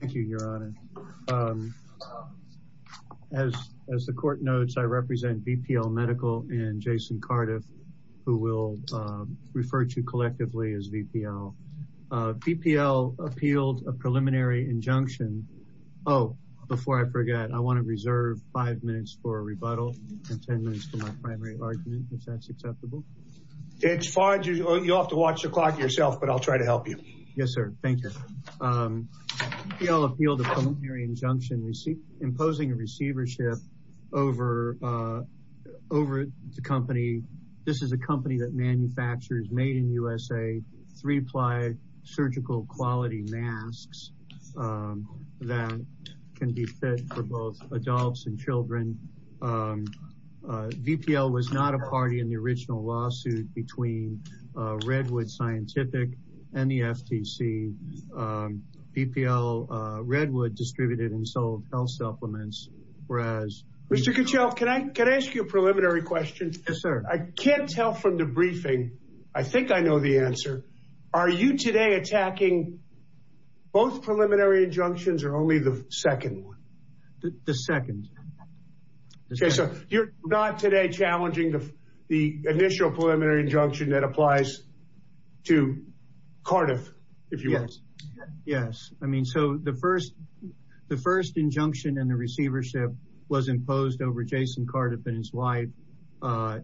Thank you your honor. As the court notes I represent BPL Medical and Jason Cardiff who will refer to collectively as BPL. BPL appealed a preliminary injunction. Oh before I forget I want to reserve five minutes for a rebuttal and ten minutes for my primary argument if that's acceptable. It's fine you have to watch the clock yourself but I'll try to help you. Yes BPL appealed a preliminary injunction imposing a receivership over the company. This is a company that manufactures Made in USA three-ply surgical quality masks that can be fit for both adults and children. BPL was not a party in the original lawsuit between Redwood Scientific and the FTC. BPL Redwood distributed and sold health supplements. Mr. Kuchel can I ask you a preliminary question? Yes sir. I can't tell from the briefing I think I know the answer. Are you today attacking both preliminary injunctions or only the initial preliminary injunction that applies to Cardiff? Yes yes I mean so the first the first injunction and the receivership was imposed over Jason Cardiff and his wife.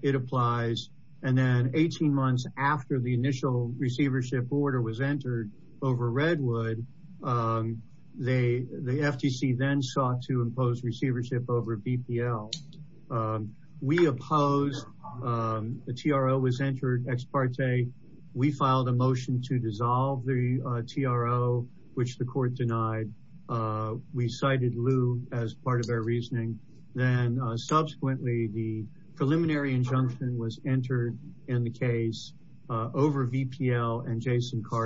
It applies and then 18 months after the initial receivership order was entered over Redwood they the FTC then sought to impose receivership over BPL. We opposed the TRO was entered ex parte. We filed a motion to dissolve the TRO which the court denied. We cited Liu as part of our reasoning then subsequently the preliminary injunction was entered in the case over BPL and we're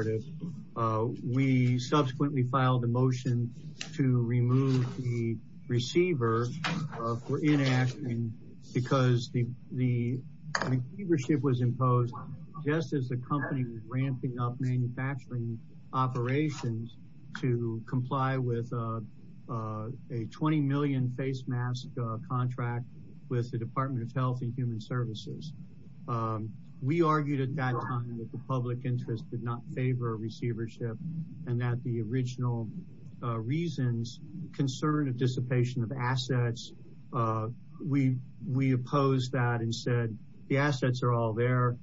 in action because the receivership was imposed just as the company ramping up manufacturing operations to comply with a 20 million face mask contract with the Department of Health and Human Services. We argued at that time that the public interest did not favor receivership and that the original reasons concern a dissipation of assets. We we opposed that and said the assets are all there.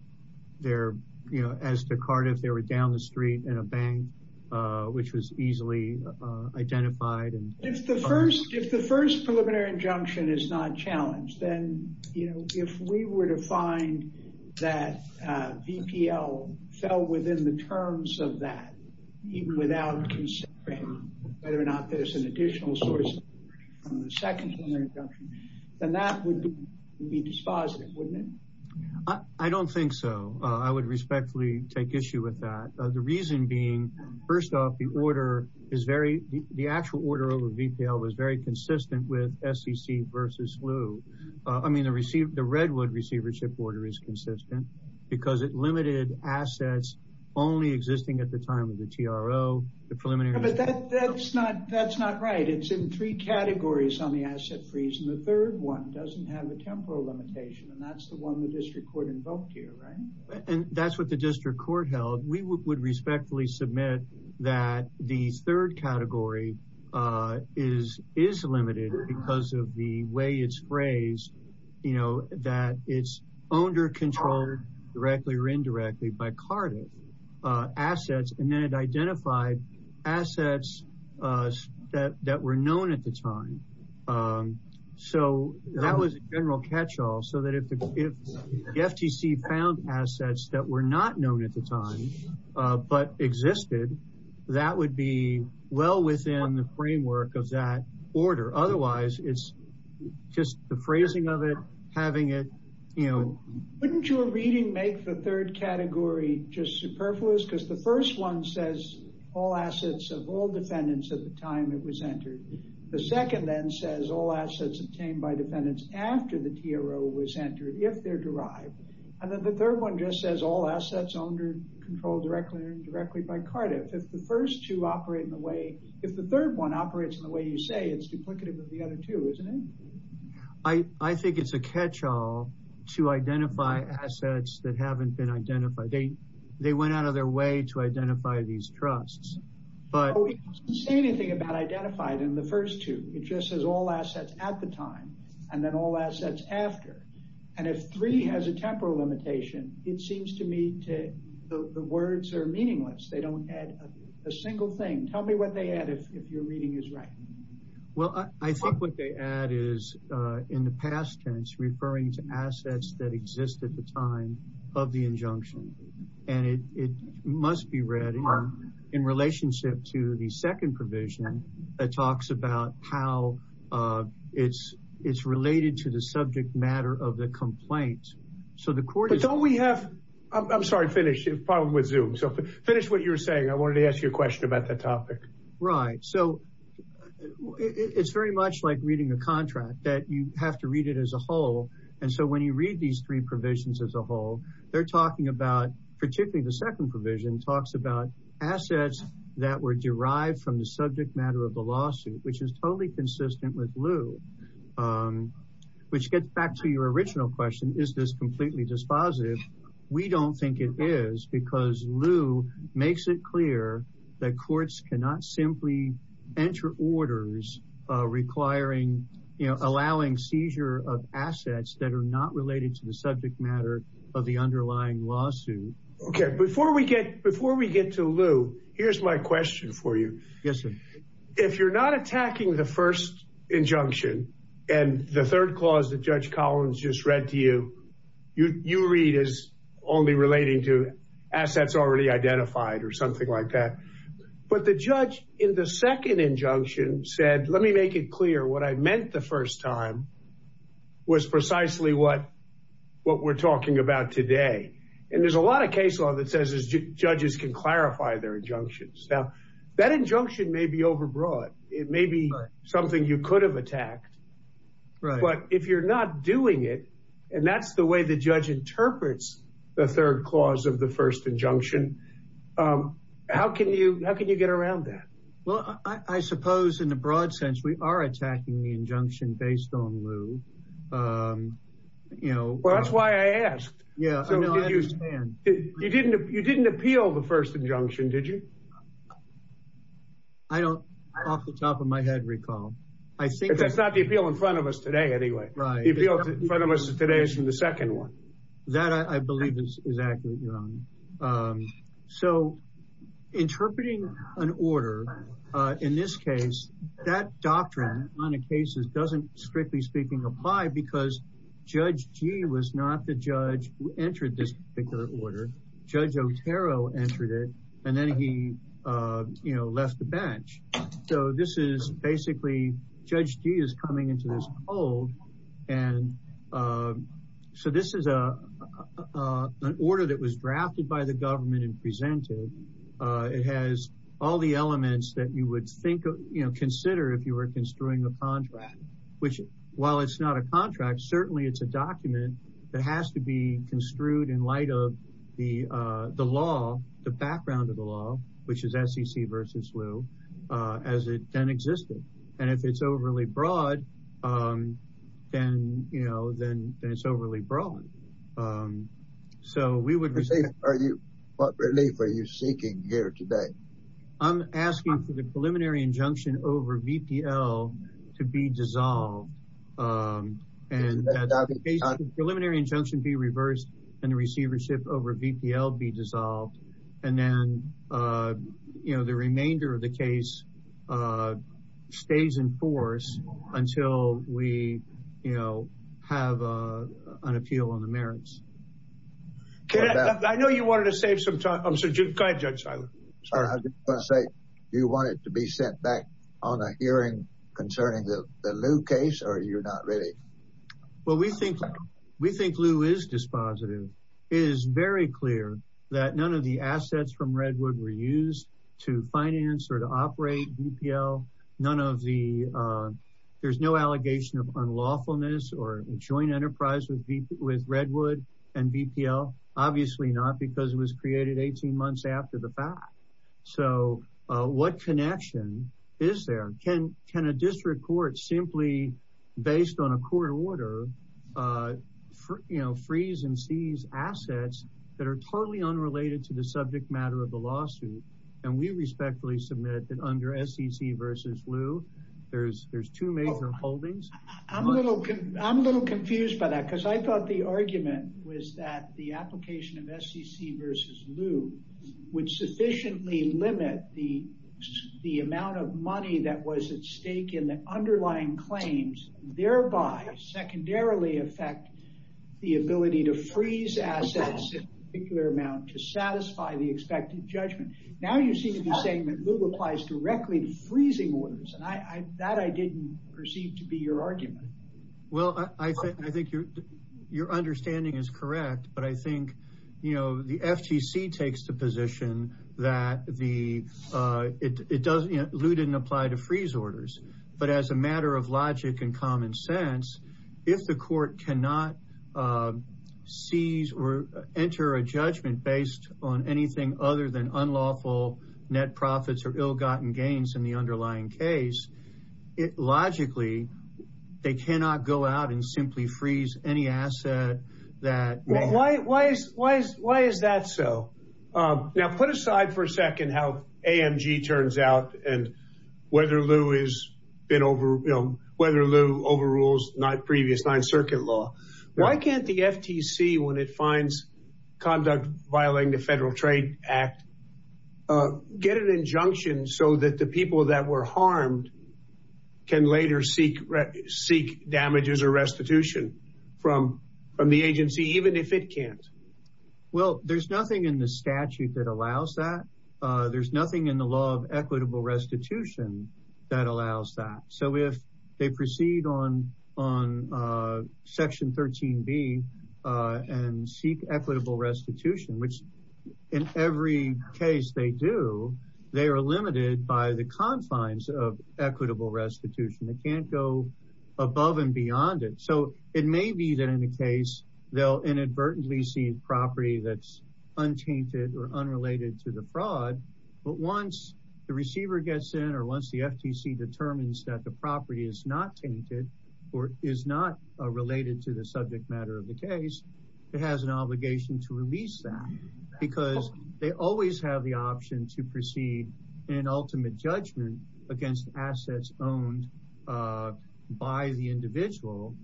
They're you know as to Cardiff they were down the street in a bank which was easily identified. If the first if the first preliminary injunction is not challenged then you know if we were to find that BPL fell within the terms of that even without considering whether or not there's an additional source from the second preliminary injunction then that would be dispositive wouldn't it? I don't think so. I would respectfully take issue with that. The reason being first off the order is very the actual order over BPL was very consistent with SEC versus Liu. I mean the received the Redwood receivership order is consistent because it limited assets only existing at the time of the TRO the preliminary. But that's not that's not right it's in three categories on the asset freeze and the third one doesn't have a temporal limitation and that's the one the district court invoked here right? And that's what the district court held. We would respectfully submit that the third under control directly or indirectly by Cardiff assets and then it identified assets that that were known at the time. So that was a general catch-all so that if the FTC found assets that were not known at the time but existed that would be well within the framework of that order. Otherwise it's just the phrasing of it having it you know. Wouldn't your reading make the third category just superfluous because the first one says all assets of all defendants at the time it was entered. The second then says all assets obtained by defendants after the TRO was entered if they're derived. And then the third one just says all assets under control directly or indirectly by Cardiff. If the first two operate in the way if the third one operates in the way you say it's duplicative of the other two I think it's a catch-all to identify assets that haven't been identified. They they went out of their way to identify these trusts but we say anything about identified in the first two. It just says all assets at the time and then all assets after. And if three has a temporal limitation it seems to me to the words are meaningless. They don't add a single thing. Tell me what they add if your reading is right. Well I think what they add is in the past tense referring to assets that exist at the time of the injunction. And it must be read in relationship to the second provision that talks about how it's it's related to the subject matter of the complaint. So the court. But don't we have I'm sorry finish it probably with Zoom. So finish what you're saying I wanted to ask you a It's very much like reading a contract that you have to read it as a whole. And so when you read these three provisions as a whole they're talking about particularly the second provision talks about assets that were derived from the subject matter of the lawsuit which is totally consistent with Lou. Which gets back to your original question is this completely dispositive. We don't think it is because Lou makes it clear that courts cannot simply enter orders requiring you know allowing seizure of assets that are not related to the subject matter of the underlying lawsuit. Okay before we get before we get to Lou here's my question for you. Yes sir. If you're not attacking the first injunction and the third clause that Judge Collins just read to you you you read is only relating to assets already identified or something like that. But the judge in the second injunction said let me make it clear what I meant the first time was precisely what what we're talking about today. And there's a lot of case law that says judges can clarify their injunctions. Now that injunction may be overbroad. It may be something you could have attacked. Right. But if you're not doing it and that's the way the judge interprets the third clause of the first injunction. How can you how can you get around that? Well I suppose in the broad sense we are attacking the injunction based on Lou. You know. Well that's why I asked. Yeah. You didn't you didn't appeal the first injunction did you? I don't off the top of my head recall. I think that's not the appeal in front of us today anyway. Right. The appeal in front of us today is from the second one. That I believe is exactly right. So interpreting an order in this case that doctrine on a cases doesn't strictly speaking apply because Judge Gee was not the judge who entered this particular order. Judge Otero entered it and then he you know left the hold. And so this is a an order that was drafted by the government and presented. It has all the elements that you would think of you know consider if you were construing a contract. Which while it's not a contract certainly it's a document that has to be construed in light of the the law the background of the law. Which is SEC versus Lou. As it then existed. And if it's overly broad then you know then it's overly broad. So we would. Are you what relief are you seeking here today? I'm asking for the preliminary injunction over VPL to be dissolved. Preliminary injunction be reversed and the receivership over VPL be you know the remainder of the case stays in force until we you know have an appeal on the merits. I know you wanted to save some time. So go ahead Judge Seiler. I just want to say you want it to be sent back on a hearing concerning the Lou case or you're not ready? Well we think we think Lou is dispositive. It is very clear that none of the assets from Redwood were used to finance or to operate VPL. None of the there's no allegation of unlawfulness or joint enterprise with Redwood and VPL. Obviously not because it was created 18 months after the fact. So what connection is there? Can a district court simply based on a court order for you know freeze and seize assets that are totally unrelated to the subject matter of the lawsuit and we respectfully submit that under SEC versus Lou there's there's two major holdings. I'm a little confused by that because I thought the argument was that the application of SEC versus Lou would sufficiently limit the the amount of underlying claims thereby secondarily affect the ability to freeze assets in a particular amount to satisfy the expected judgment. Now you seem to be saying that Lou applies directly to freezing orders and I that I didn't perceive to be your argument. Well I think I think your your understanding is correct but I think you know the FTC takes the position that the it doesn't you know Lou didn't apply to freeze orders but as a matter of logic and common sense if the court cannot seize or enter a judgment based on anything other than unlawful net profits or ill gotten gains in the underlying case it logically they cannot go out and simply freeze any asset that. Why is that so? Now put aside for a second how Lou is been over you know whether Lou overrules not previous Ninth Circuit law why can't the FTC when it finds conduct violating the Federal Trade Act get an injunction so that the people that were harmed can later seek seek damages or restitution from from the agency even if it can't? Well there's nothing in the statute that allows that there's nothing in the law of equitable restitution that allows that so if they proceed on on Section 13 B and seek equitable restitution which in every case they do they are limited by the confines of equitable restitution they can't go above and beyond it so it may be that in a case they'll inadvertently seize property that's untainted or gets in or once the FTC determines that the property is not tainted or is not related to the subject matter of the case it has an obligation to release that because they always have the option to proceed in ultimate judgment against assets owned by the individual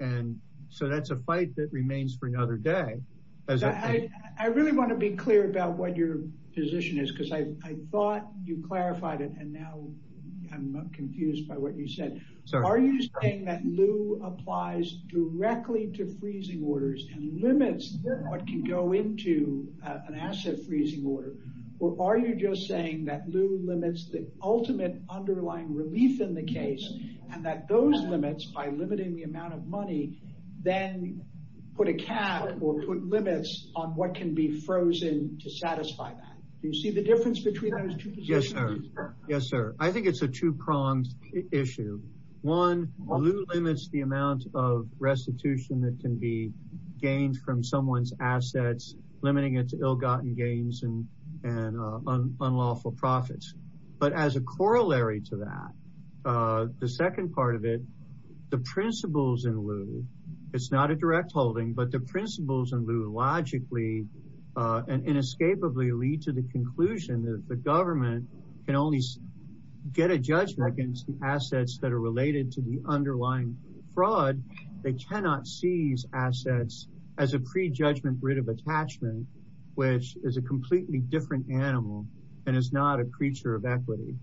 and so that's a fight that remains for another day. I really want to be clear about what your position is because I thought you clarified it and now I'm confused by what you said so are you saying that lieu applies directly to freezing orders and limits what can go into an asset freezing order or are you just saying that lieu limits the ultimate underlying relief in the case and that those limits by limiting the amount of money then put a cap or put limits on what can be frozen to satisfy that do you see the yes sir yes sir I think it's a two-pronged issue one limits the amount of restitution that can be gained from someone's assets limiting its ill-gotten gains and unlawful profits but as a corollary to that the second part of it the principles in lieu it's not a direct holding but the principles in lieu logically and inescapably lead to the conclusion that the government can only get a judgment against the assets that are related to the underlying fraud they cannot seize assets as a pre-judgment writ of attachment which is a completely different animal and it's not a creature of equity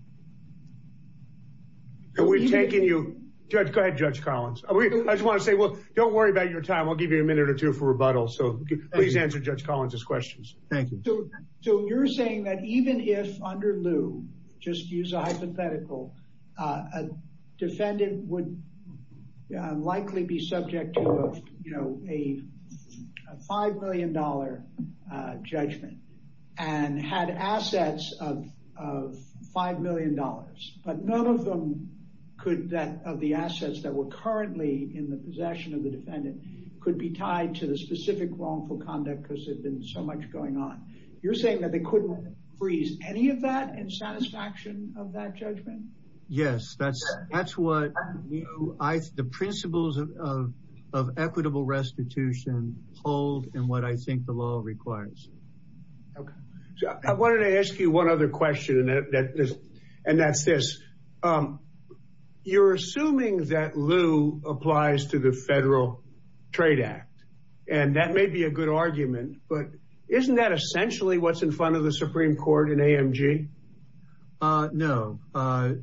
and we're taking you judge go ahead judge Collins I just want to say well don't worry about your time I'll please answer judge Collins's questions thank you so you're saying that even if under lieu just use a hypothetical a defendant would likely be subject to you know a five million dollar judgment and had assets of five million dollars but none of them could that of the assets that were currently in the possession of so much going on you're saying that they couldn't freeze any of that and satisfaction of that judgment yes that's that's what I the principles of equitable restitution hold and what I think the law requires I wanted to ask you one other question and that's this you're assuming that lieu applies to the argument but isn't that essentially what's in front of the Supreme Court in AMG no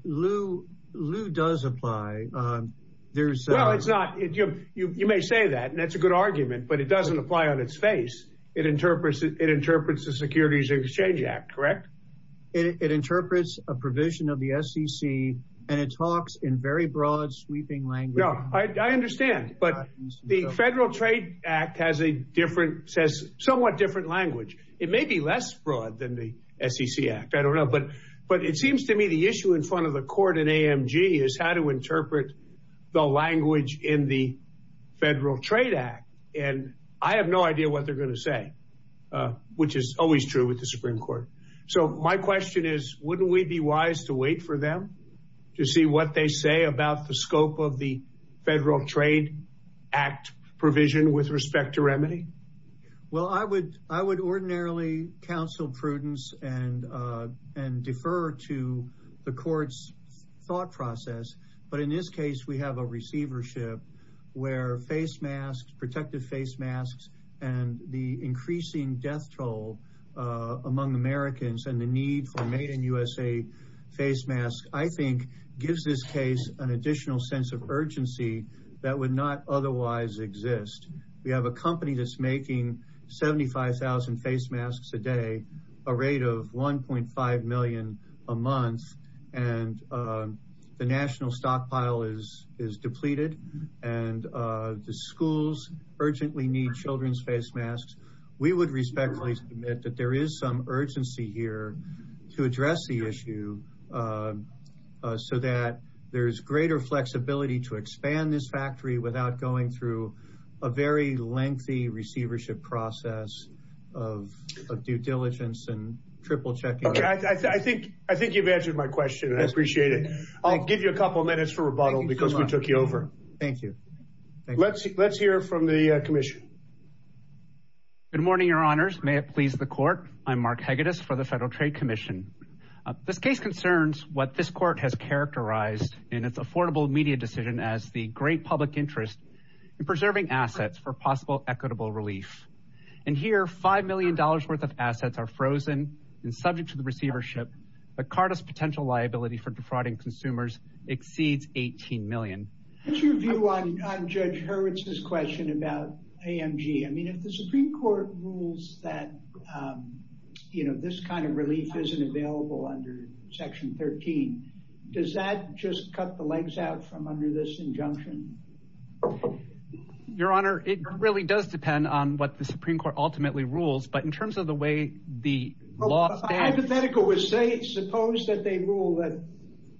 Lou Lou does apply there's well it's not you may say that and that's a good argument but it doesn't apply on its face it interprets it interprets the Securities Exchange Act correct it interprets a provision of the SEC and it talks in very broad sweeping language I understand but the Federal Trade Act has a different says somewhat different language it may be less broad than the SEC Act I don't know but but it seems to me the issue in front of the court in AMG is how to interpret the language in the Federal Trade Act and I have no idea what they're gonna say which is always true with the Supreme Court so my question is wouldn't we be wise to wait for them to see what they say about the well I would I would ordinarily counsel prudence and and defer to the court's thought process but in this case we have a receivership where face masks protective face masks and the increasing death toll among Americans and the need for made in USA face masks I think gives this case an additional sense of urgency that would not otherwise exist we have a company that's making 75,000 face masks a day a rate of 1.5 million a month and the national stockpile is is depleted and the schools urgently need children's face masks we would respectfully submit that there is some urgency here to address the issue so that there's greater flexibility to expand this factory without going through a very lengthy receivership process of due diligence and triple checking I think I think you've answered my question I appreciate it I'll give you a couple minutes for rebuttal because we took you over thank you let's let's hear from the Commission good morning your honors may it please the court I'm Mark Hegedus for the Federal Trade Commission this case concerns what this court has affordable media decision as the great public interest in preserving assets for possible equitable relief and here five million dollars worth of assets are frozen and subject to the receivership but Carta's potential liability for defrauding consumers exceeds 18 million what's your view on Judge Hurwitz's question about AMG I mean if the Supreme Court rules that you know this kind of under this injunction your honor it really does depend on what the Supreme Court ultimately rules but in terms of the way the hypothetical was say suppose that they rule that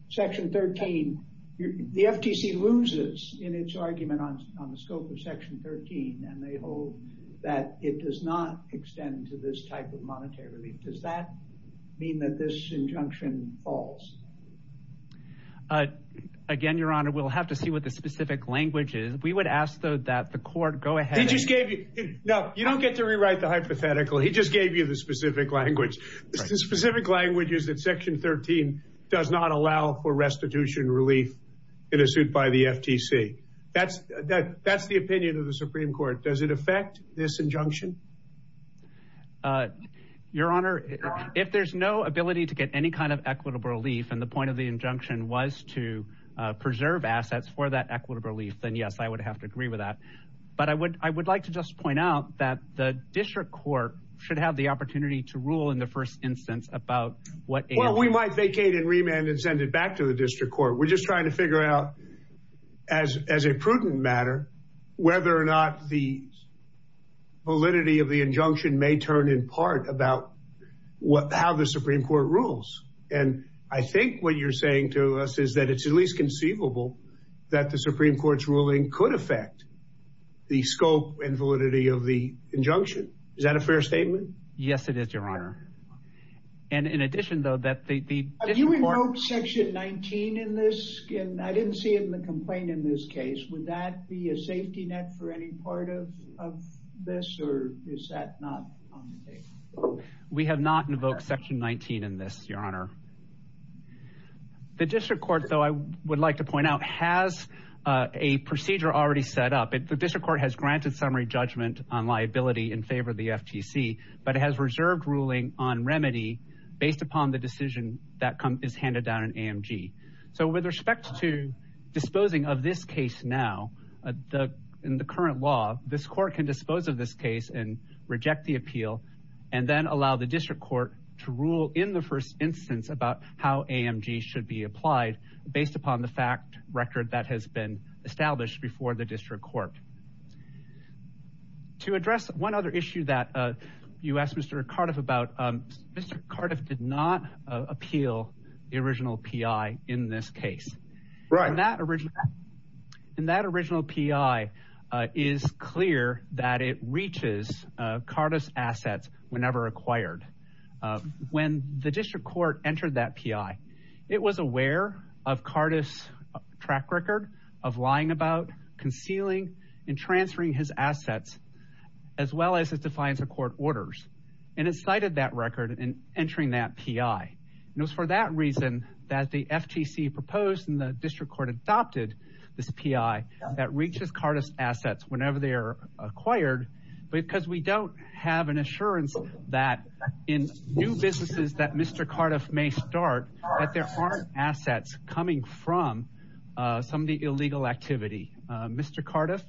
section 13 the FTC loses in its argument on the scope of section 13 and they hold that it does not extend to this type of monetary relief does that mean that this injunction falls again your honor we'll have to see what the specific language is we would ask though that the court go ahead just gave you know you don't get to rewrite the hypothetical he just gave you the specific language specific languages that section 13 does not allow for restitution relief in a suit by the FTC that's that that's the opinion of if there's no ability to get any kind of equitable relief and the point of the injunction was to preserve assets for that equitable relief then yes I would have to agree with that but I would I would like to just point out that the district court should have the opportunity to rule in the first instance about what we might vacate and remand and send it back to the district court we're just trying to figure out as as a prudent matter whether or not the validity of the injunction may turn in part about what how the Supreme Court rules and I think what you're saying to us is that it's at least conceivable that the Supreme Court's ruling could affect the scope and validity of the injunction is that a fair statement yes it is your honor and in addition though that the section 19 in this I didn't see it in the complaint in this case would that be a safety net for any part of this or is that not we have not invoked section 19 in this your honor the district court though I would like to point out has a procedure already set up if the district court has granted summary judgment on liability in favor of the FTC but it has reserved ruling on remedy based upon the decision that come is handed down an AMG so with respect to disposing of this case now the in the current law this court can dispose of this case and reject the appeal and then allow the district court to rule in the first instance about how AMG should be applied based upon the fact record that has been established before the district court to address one other issue that you asked mr. Cardiff about mr. Cardiff did not appeal the original PI in this case right in that original in that original PI is clear that it reaches Cardiff's assets whenever acquired when the district court entered that PI it was aware of Cardiff's track record of lying about concealing and transferring his assets as well as his defiance of court orders and it cited that record and entering that PI and it was for that reason that the FTC proposed and the district court adopted this PI that reaches Cardiff's assets whenever they are acquired because we don't have an assurance that in new businesses that mr. Cardiff may start that there aren't assets coming from some of the illegal activity mr. Cardiff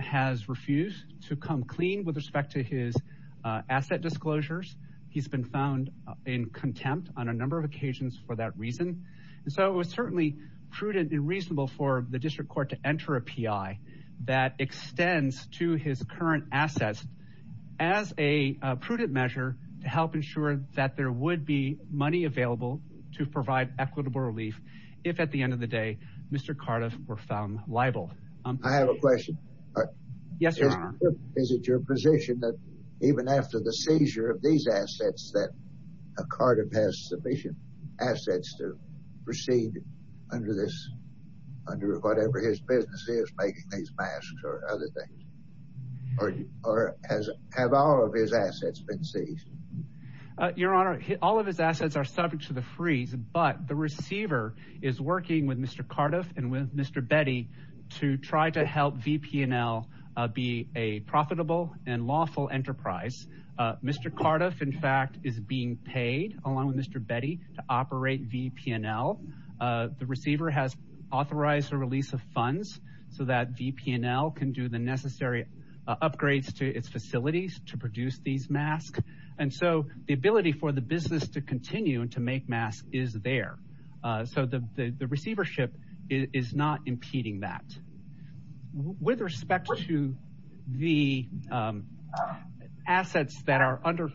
has refused to come clean with respect to his asset disclosures he's been found in contempt on a number of occasions for that reason and so it was certainly prudent and reasonable for the district court to enter a PI that extends to his current assets as a prudent measure to help ensure that there would be money available to provide equitable relief if at the end of the day mr. Cardiff were found liable I have a question yes is it your position that even after the seizure of these assets that a Cardiff has sufficient assets to proceed under this under whatever his business is making these masks or other things or as have all of his assets been seized your honor all of his assets are subject to the freeze but the receiver is working with mr. Cardiff and with mr. Betty to try to help VPN L be a profitable and lawful enterprise mr. Cardiff in fact is being paid along with mr. Betty to operate VPN L the receiver has authorized a release of funds so that VPN L can do the necessary upgrades to its facilities to produce these masks and so the ability for the business to continue and to make masks is there so the receivership is not impeding that with respect to the assets that are under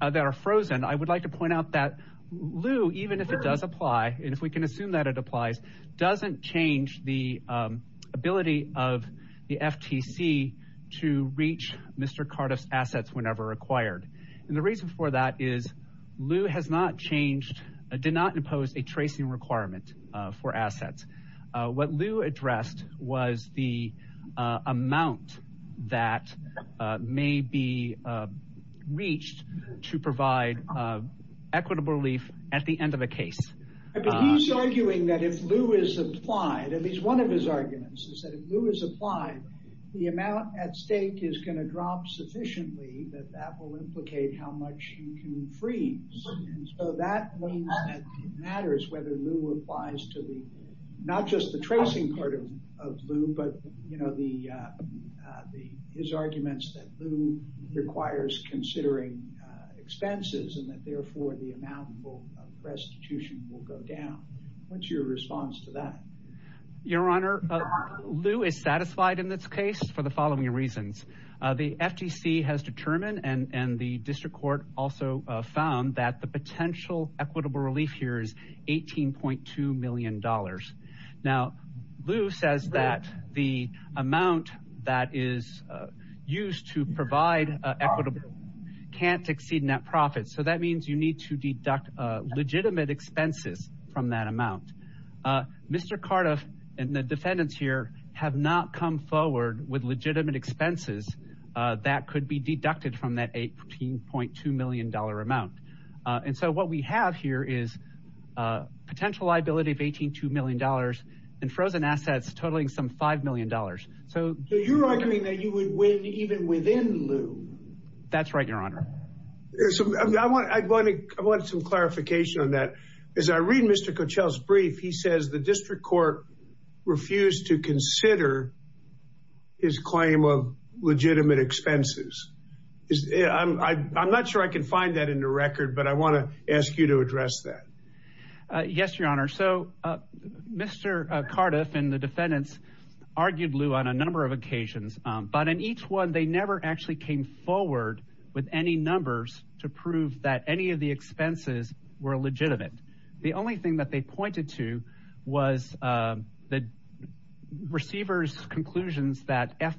that are frozen I would like to point out that Lou even if it does apply and if we can assume that it applies doesn't change the ability of the FTC to reach mr. Cardiff's assets whenever required and the reason for that is Lou has not changed did not impose a tracing requirement for assets what Lou addressed was the amount that may be reached to provide equitable relief at the end of a case arguing that if Lou is applied at least one of his arguments is that if Lou is applied the amount at stake is going to drop sufficiently that will implicate how much he can freeze so that matters whether Lou applies to the not just the tracing part of Lou but you know the the his arguments that Lou requires considering expenses and that therefore the amount will restitution will go down what's your response to that your honor Lou is satisfied in this for the following reasons the FTC has determined and and the district court also found that the potential equitable relief here is 18.2 million dollars now Lou says that the amount that is used to provide equitable can't exceed net profits so that means you need to deduct legitimate expenses from that with legitimate expenses that could be deducted from that 18.2 million dollar amount and so what we have here is potential liability of 18 2 million dollars and frozen assets totaling some 5 million dollars so you're arguing that you would win even within Lou that's right your honor there's some I want I want to I want some clarification on that as I read mr. Coachella's brief he says the district court refused to consider his claim of legitimate expenses is I'm not sure I can find that in the record but I want to ask you to address that yes your honor so mr. Cardiff and the defendants argued Lou on a number of occasions but in each one they never actually came forward with any numbers to prove that any of the expenses were legitimate the only thing that they pointed to was the receivers conclusions that f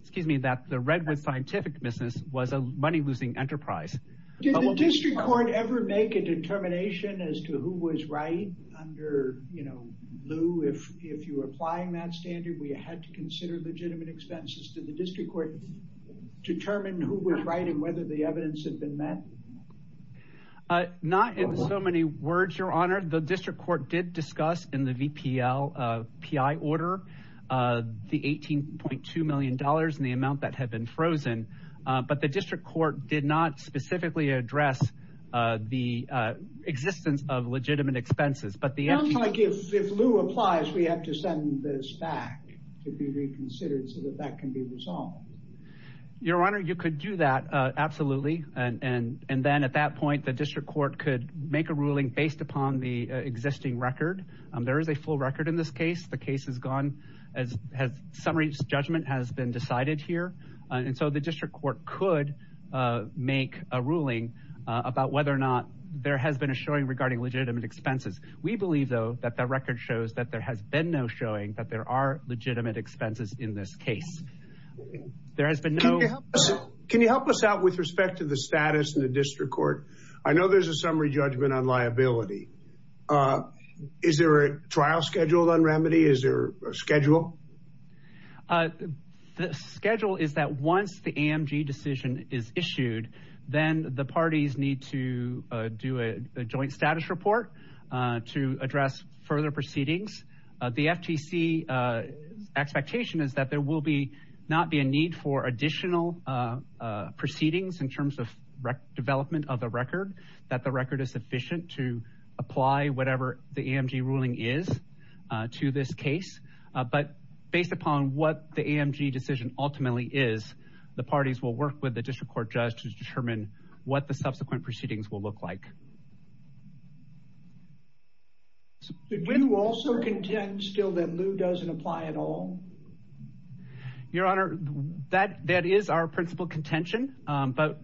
excuse me that the Redwood scientific business was a money-losing enterprise district court ever make a determination as to who was right under you know Lou if if you applying that standard we had to consider legitimate expenses to the district court determine who was writing whether the evidence had been met not in so many words your honor the district court did discuss in the VPL PI order the 18.2 million dollars in the amount that had been frozen but the district court did not specifically address the existence of legitimate expenses but the answer I give if Lou applies we have to send this back to be reconsidered so that that can be resolved your honor you could do that absolutely and and and then at that point the district court could make a ruling based upon the existing record there is a full record in this case the case is gone as has summary judgment has been decided here and so the district court could make a ruling about whether or not there has been a showing regarding legitimate expenses we believe though that that record shows that there has been no showing that there are legitimate expenses in this case there has been no can you help us out with respect to the status in the district court I know there's a summary judgment on liability is there a trial scheduled on remedy is there a schedule the schedule is that once the AMG decision is issued then the parties need to do a joint status report to address further proceedings the FTC expectation is that there will be not be a need for additional proceedings in terms of development of the record that the record is sufficient to apply whatever the AMG ruling is to this case but based upon what the AMG decision ultimately is the parties will work with the district court judge to determine what the subsequent proceedings will look like so did you also contend still that Lou doesn't apply at all your honor that that is our principal contention but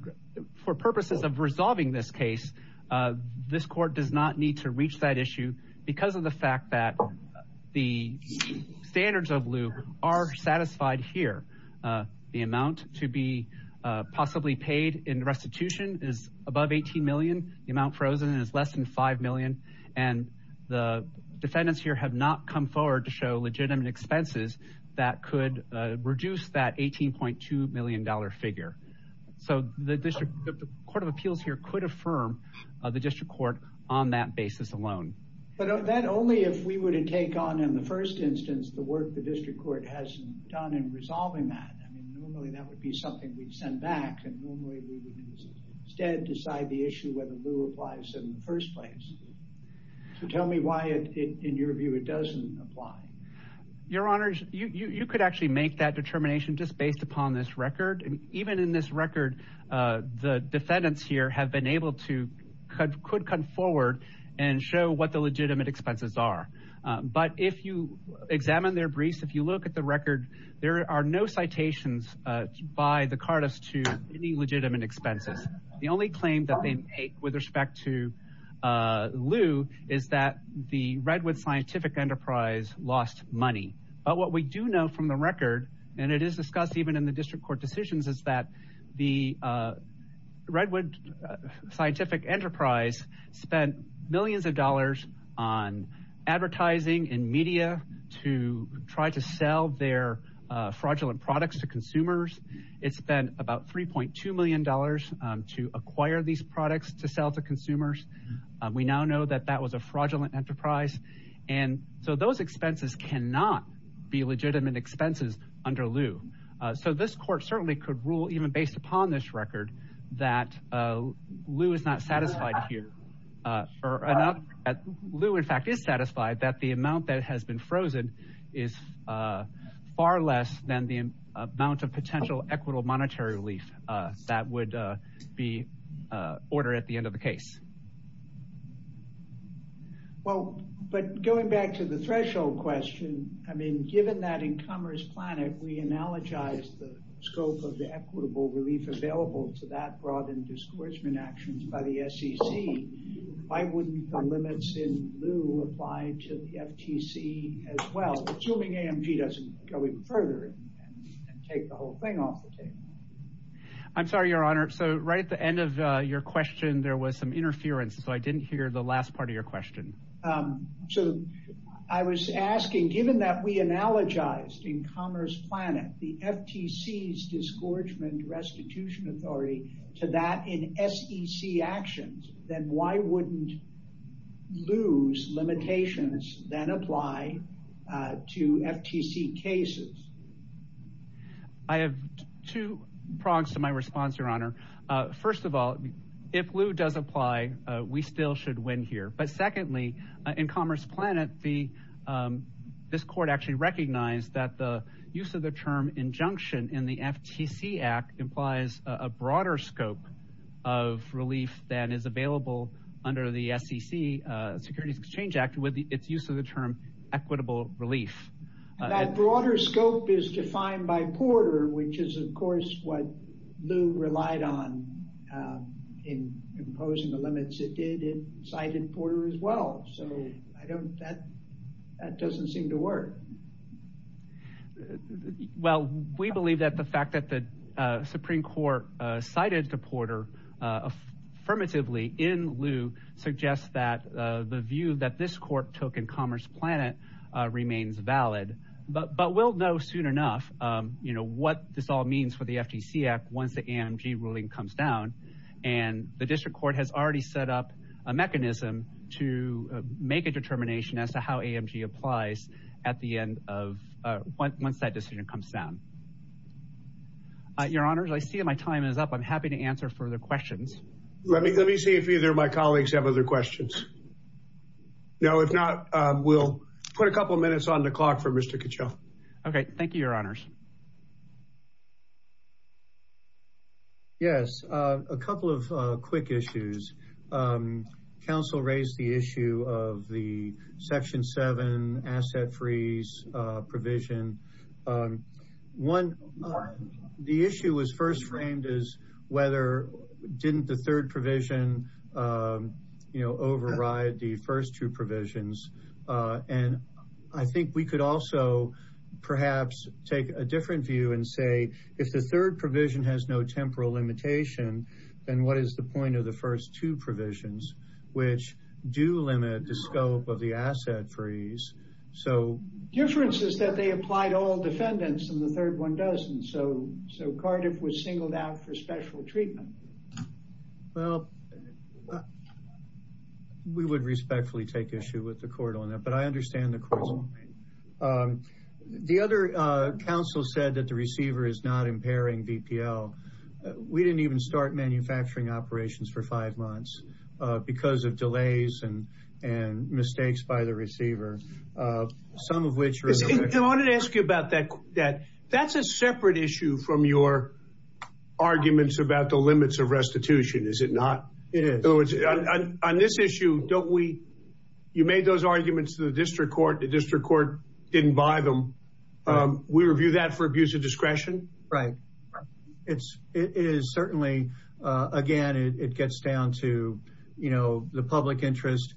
for purposes of resolving this case this court does not need to reach that issue because of the fact that the standards of Lou are satisfied here the amount to be possibly paid in restitution is above 18 million the amount frozen is less than 5 million and the defendants here have not come forward to show legitimate expenses that could reduce that 18.2 million dollar figure so the District Court of Appeals here could affirm the district court on that basis alone but of that only if we were to take on in the first instance the work the district court has done in resolving that normally that would be something we'd send back and normally we would instead decide the issue whether Lou applies in the first place so tell me why it in your view it doesn't apply your honors you could actually make that determination just based upon this record and even in this record the defendants here have been able to cut could come forward and show what the legitimate expenses are but if you examine their briefs if you look at the by the Cardiff's to any legitimate expenses the only claim that they make with respect to Lou is that the Redwood Scientific Enterprise lost money but what we do know from the record and it is discussed even in the district court decisions is that the Redwood Scientific Enterprise spent millions of dollars on it's been about 3.2 million dollars to acquire these products to sell to consumers we now know that that was a fraudulent enterprise and so those expenses cannot be legitimate expenses under Lou so this court certainly could rule even based upon this record that Lou is not satisfied here for enough at Lou in fact is satisfied that the amount that has been frozen is far less than the amount of potential equitable monetary relief that would be order at the end of the case well but going back to the threshold question I mean given that in Commerce Planet we analogize the scope of the equitable relief available to that brought in discourseman actions by the SEC why wouldn't the limits in the FTC as well assuming AMG doesn't go even further I'm sorry your honor so right at the end of your question there was some interference so I didn't hear the last part of your question so I was asking given that we analogized in Commerce Planet the FTC's disgorgement restitution authority to that in SEC actions then why wouldn't lose limitations that apply to FTC cases I have two prongs to my response your honor first of all if Lou does apply we still should win here but secondly in Commerce Planet the this court actually recognized that the use of the term injunction in the FTC Act implies a then is available under the SEC Securities Exchange Act with its use of the term equitable relief that broader scope is defined by Porter which is of course what Lou relied on in imposing the limits it did it cited Porter as well so I don't that that doesn't seem to work well we believe that the fact that the Supreme Court cited to Porter affirmatively in Lou suggests that the view that this court took in Commerce Planet remains valid but but we'll know soon enough you know what this all means for the FTC Act once the AMG ruling comes down and the district court has already set up a mechanism to make a determination as to how AMG applies at the end of once that decision comes down your honors I see my time is up I'm happy to answer further questions let me let me see if either of my colleagues have other questions no if not we'll put a couple minutes on the clock for mr. Kuchel okay thank you your honors yes a couple of quick issues council raised the issue of the section 7 asset freeze provision one the issue was first framed as whether didn't the third provision you know override the first two provisions and I think we could also perhaps take a different view and say if the third provision has no temporal limitation then what is the point of the first two provisions which do limit the scope of the asset freeze so differences that they applied all defendants and the third one doesn't so so Cardiff was singled out for special treatment well we would respectfully take issue with the court on that but I understand the court the other council said that the receiver is not impairing VPL we didn't even start manufacturing operations for five months because of delays and and mistakes by the receiver some of which I wanted to ask you about that that that's a separate issue from your arguments about the limits of restitution is it not it is on this issue don't we you made those arguments to the district court the district court didn't buy them we review that for abuse of discretion right it's it is certainly again it gets down to you know the public interest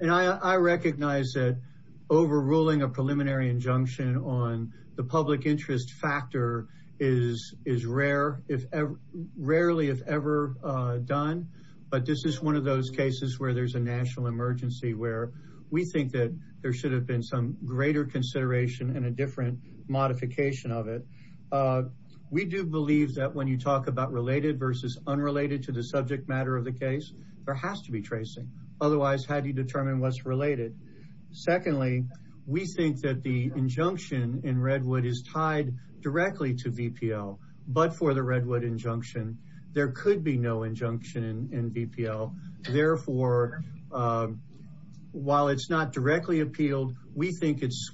and I recognize that overruling a preliminary injunction on the public interest factor is is rare if ever rarely if ever done but this is one of those cases where there's a national emergency where we think that there should have been some greater consideration and a different modification of it we do believe that when you talk about related versus unrelated to the subject matter of the case there has to be tracing otherwise how do you determine what's related secondly we think that the injunction in Redwood is tied directly to VPL but for the Redwood injunction there could be no injunction in VPL therefore while it's not directly appealed we think it's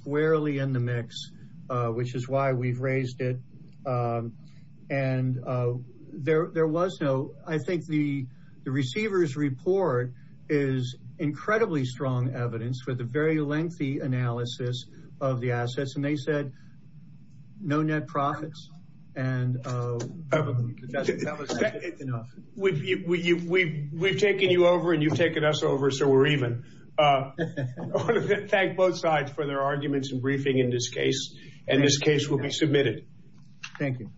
and there there was no I think the the receivers report is incredibly strong evidence for the very lengthy analysis of the assets and they said no net profits and we've taken you over and you've taken us over so we're even thank both sides for their arguments and briefing in this case and this case will be submitted. Thank you.